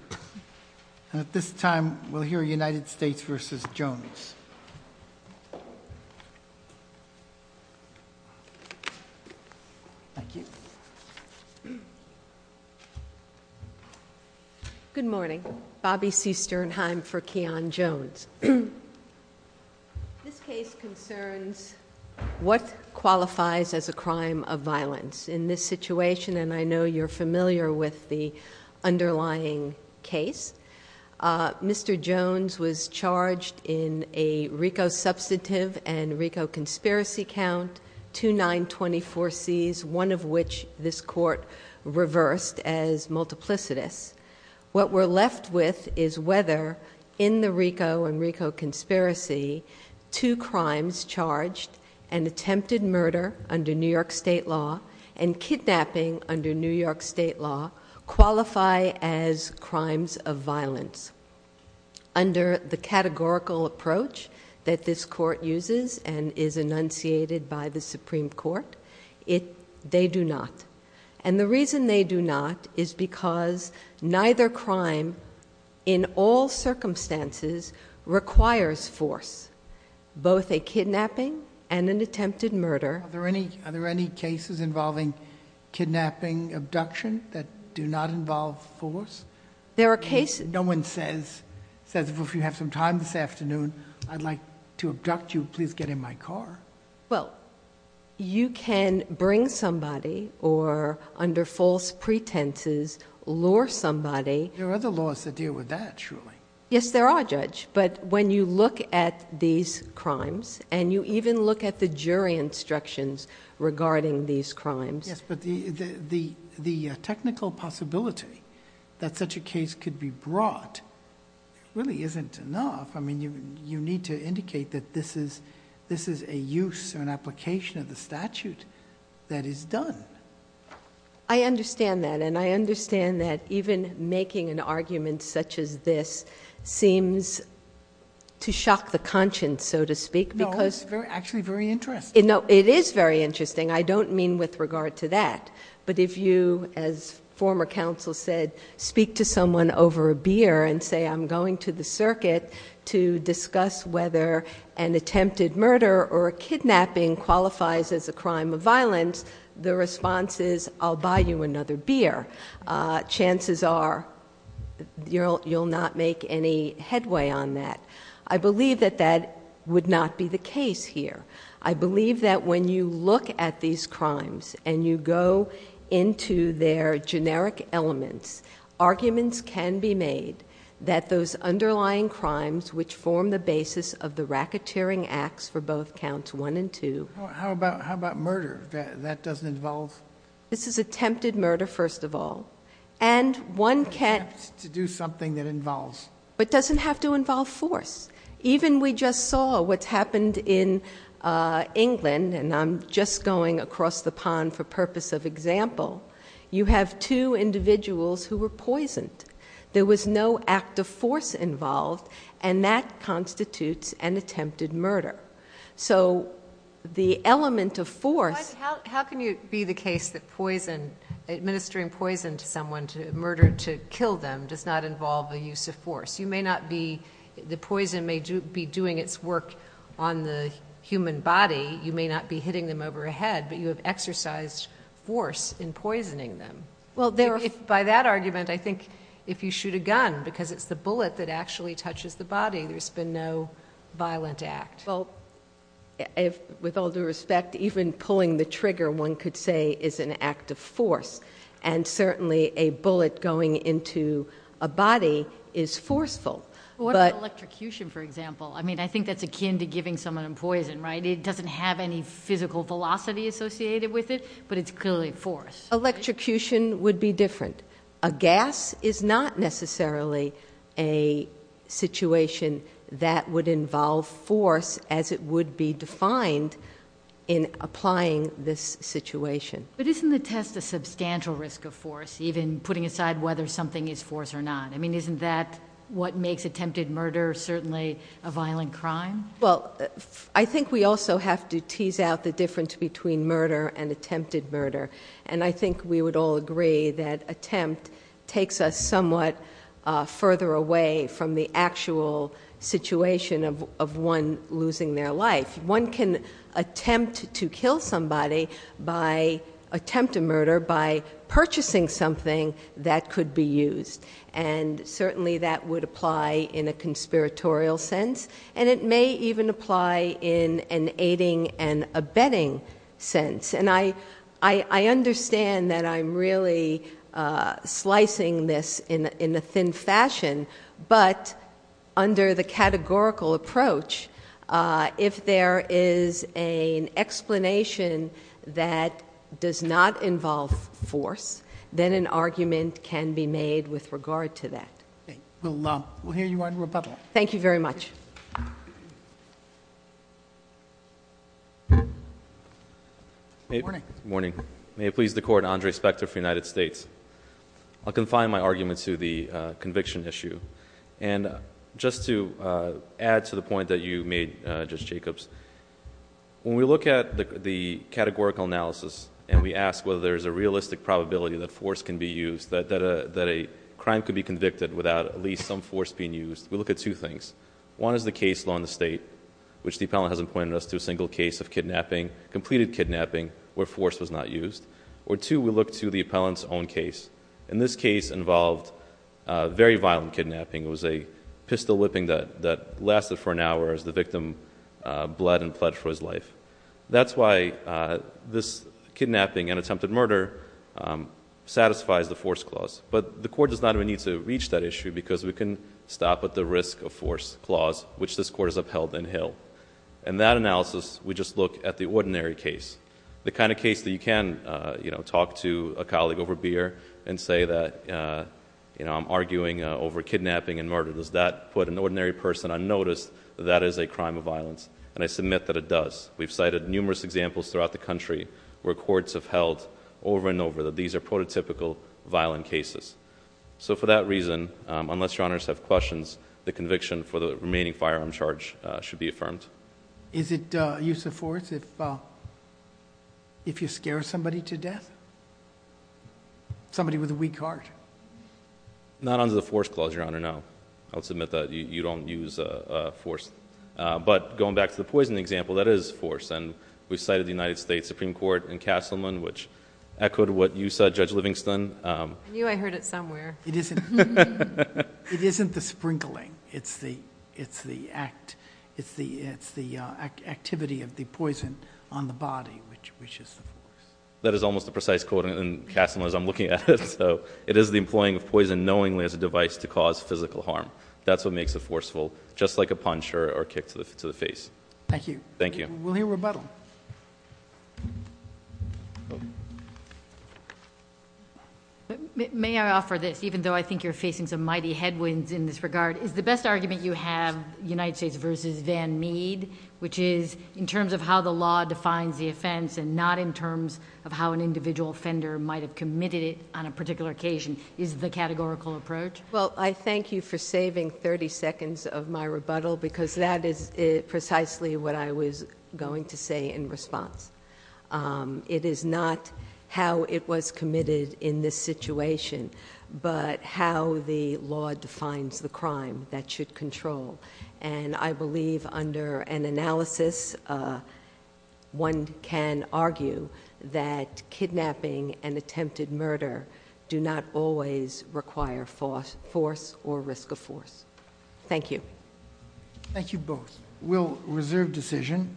ns. At this time we will hear United States v. Jones. Thank you. Good morning. Bobby C. Sternheim for Keon Jones. This case concerns what qualifies as a crime of violence. In this situation, and I know you're familiar with the underlying case, Mr. Jones was charged in a RICO substantive and RICO conspiracy count, two 924Cs, one of which this court reversed as multiplicitous. What we're left with is whether in the RICO and RICO conspiracy two crimes charged and attempted murder under New York State law and kidnapping under New York State law qualify as crimes of violence. Under the categorical approach that this court uses and is enunciated by the Supreme Court, they do not. And the reason they do not is because neither crime in all circumstances requires force, both a kidnapping and an attempted murder. Are there any cases involving kidnapping, abduction that do not involve force? There are cases. No one says, if you have some time this afternoon, I'd like to abduct you, please get in my car. Well, you can bring somebody or under false pretenses, lure somebody... There are other laws that deal with that, surely. Yes, there are, Judge, but when you look at these crimes and you even look at the jury instructions regarding these crimes... Yes, but the technical possibility that such a case could be brought really isn't enough. I mean, you need to indicate that this is a use or an application of the statute that is done. I understand that, and I understand that even making an argument such as this seems to shock the conscience, so to speak, because... No, it's actually very interesting. No, it is very interesting. I don't mean with regard to that, but if you, as former counsel said, speak to someone over a beer and say, I'm going to the circuit to discuss whether an attempted murder or a kidnapping qualifies as a crime of violence, the response is, I'll buy you another beer. Chances are you'll not make any headway on that. I believe that that would not be the case here. I believe that when you look at these crimes and you go into their generic elements, arguments can be made that those underlying crimes which form the basis of the racketeering acts for both counts one and two... How about murder? That doesn't involve... This is attempted murder, first of all. And one can... To do something that involves... But it doesn't have to involve force. Even we just saw what's happened in England, and I'm just going across the pond for purpose of example. You have two individuals who were poisoned. There was no act of force involved, and that constitutes an attempted murder. So the element of force... How can it be the case that administering poison to someone to murder to kill them does not involve a use of force? The poison may be doing its work on the human body. You may not be hitting them over the head, but you have exercised force in poisoning them. By that argument, I think if you shoot a gun, because it's the bullet that actually touches the body, there's been no violent act. With all due respect, even pulling the trigger one could say is an act of force, and certainly a bullet going into a body is forceful. What about electrocution, for example? I mean, I think that's akin to giving someone poison, right? It doesn't have any physical velocity associated with it, but it's clearly force. Electrocution would be different. A gas is not necessarily a situation that would involve force as it would be defined in applying this situation. But isn't the test a substantial risk of force, even putting aside whether something is force or not? I mean, isn't that what makes attempted murder certainly a violent crime? Well, I think we also have to tease out the difference between murder and attempted murder. And I think we would all agree that attempt takes us somewhat further away from the actual situation of one losing their life. One can attempt to kill somebody by attempting murder by purchasing something that could be used. And certainly that would apply in a conspiratorial sense, and it may even apply in an aiding and abetting sense. And I understand that I'm really slicing this in a thin fashion, but under the categorical approach, if there is an explanation that does not involve force, then an argument can be made with regard to that. We'll hear you on rebuttal. Thank you very much. Good morning. May it please the Court, Andre Spector for the United States. I'll confine my argument to the conviction issue. And just to add to the point that you made, Judge Jacobs, when we look at the categorical analysis and we ask whether there is a realistic probability that force can be used, that a crime could be convicted without at least some force being used, we look at two things. One is the case law in the state, which the appellant hasn't pointed us to a single case of completed kidnapping where force was not used. Or two, we look to the appellant's own case. And this case involved very violent kidnapping. It was a pistol whipping that lasted for an hour as the victim bled and pled for his life. That's why this kidnapping and attempted murder satisfies the force clause. But the Court does not even need to reach that issue because we can stop at the risk of force clause, which this Court has upheld and held. In that analysis, we just look at the ordinary case, the kind of case that you can talk to a colleague over beer and say that I'm arguing over kidnapping and murder. Does that put an ordinary person unnoticed? That is a crime of violence. And I submit that it does. We've cited numerous examples throughout the country where courts have held over and over that these are prototypical violent cases. So for that reason, unless Your Honors have questions, the conviction for the remaining firearm charge should be affirmed. Is it use of force if you scare somebody to death? Somebody with a weak heart? Not under the force clause, Your Honor, no. I'll submit that you don't use force. But going back to the poison example, that is force. And we've cited the United States Supreme Court and Castleman, which echoed what you said, Judge Livingston. I knew I heard it somewhere. It isn't the sprinkling. It's the activity of the poison on the body, which is the force. That is almost a precise quote in Castleman as I'm looking at it. So it is the employing of poison knowingly as a device to cause physical harm. That's what makes it forceful, just like a punch or a kick to the face. Thank you. We'll hear rebuttal. May I offer this, even though I think you're facing some mighty headwinds in this regard? Is the best argument you have United States v. Van Mead, which is in terms of how the law defines the offense and not in terms of how an individual offender might have committed it on a particular occasion? Is the categorical approach? Well, I thank you for saving 30 seconds of my rebuttal, because that is precisely what I was going to say in response. It is not how it was committed in this situation, but how the law defines the crime that should control. And I believe under an analysis, one can argue that kidnapping and attempted murder do not always require force or risk of force. Thank you. Thank you both. We'll reserve decision.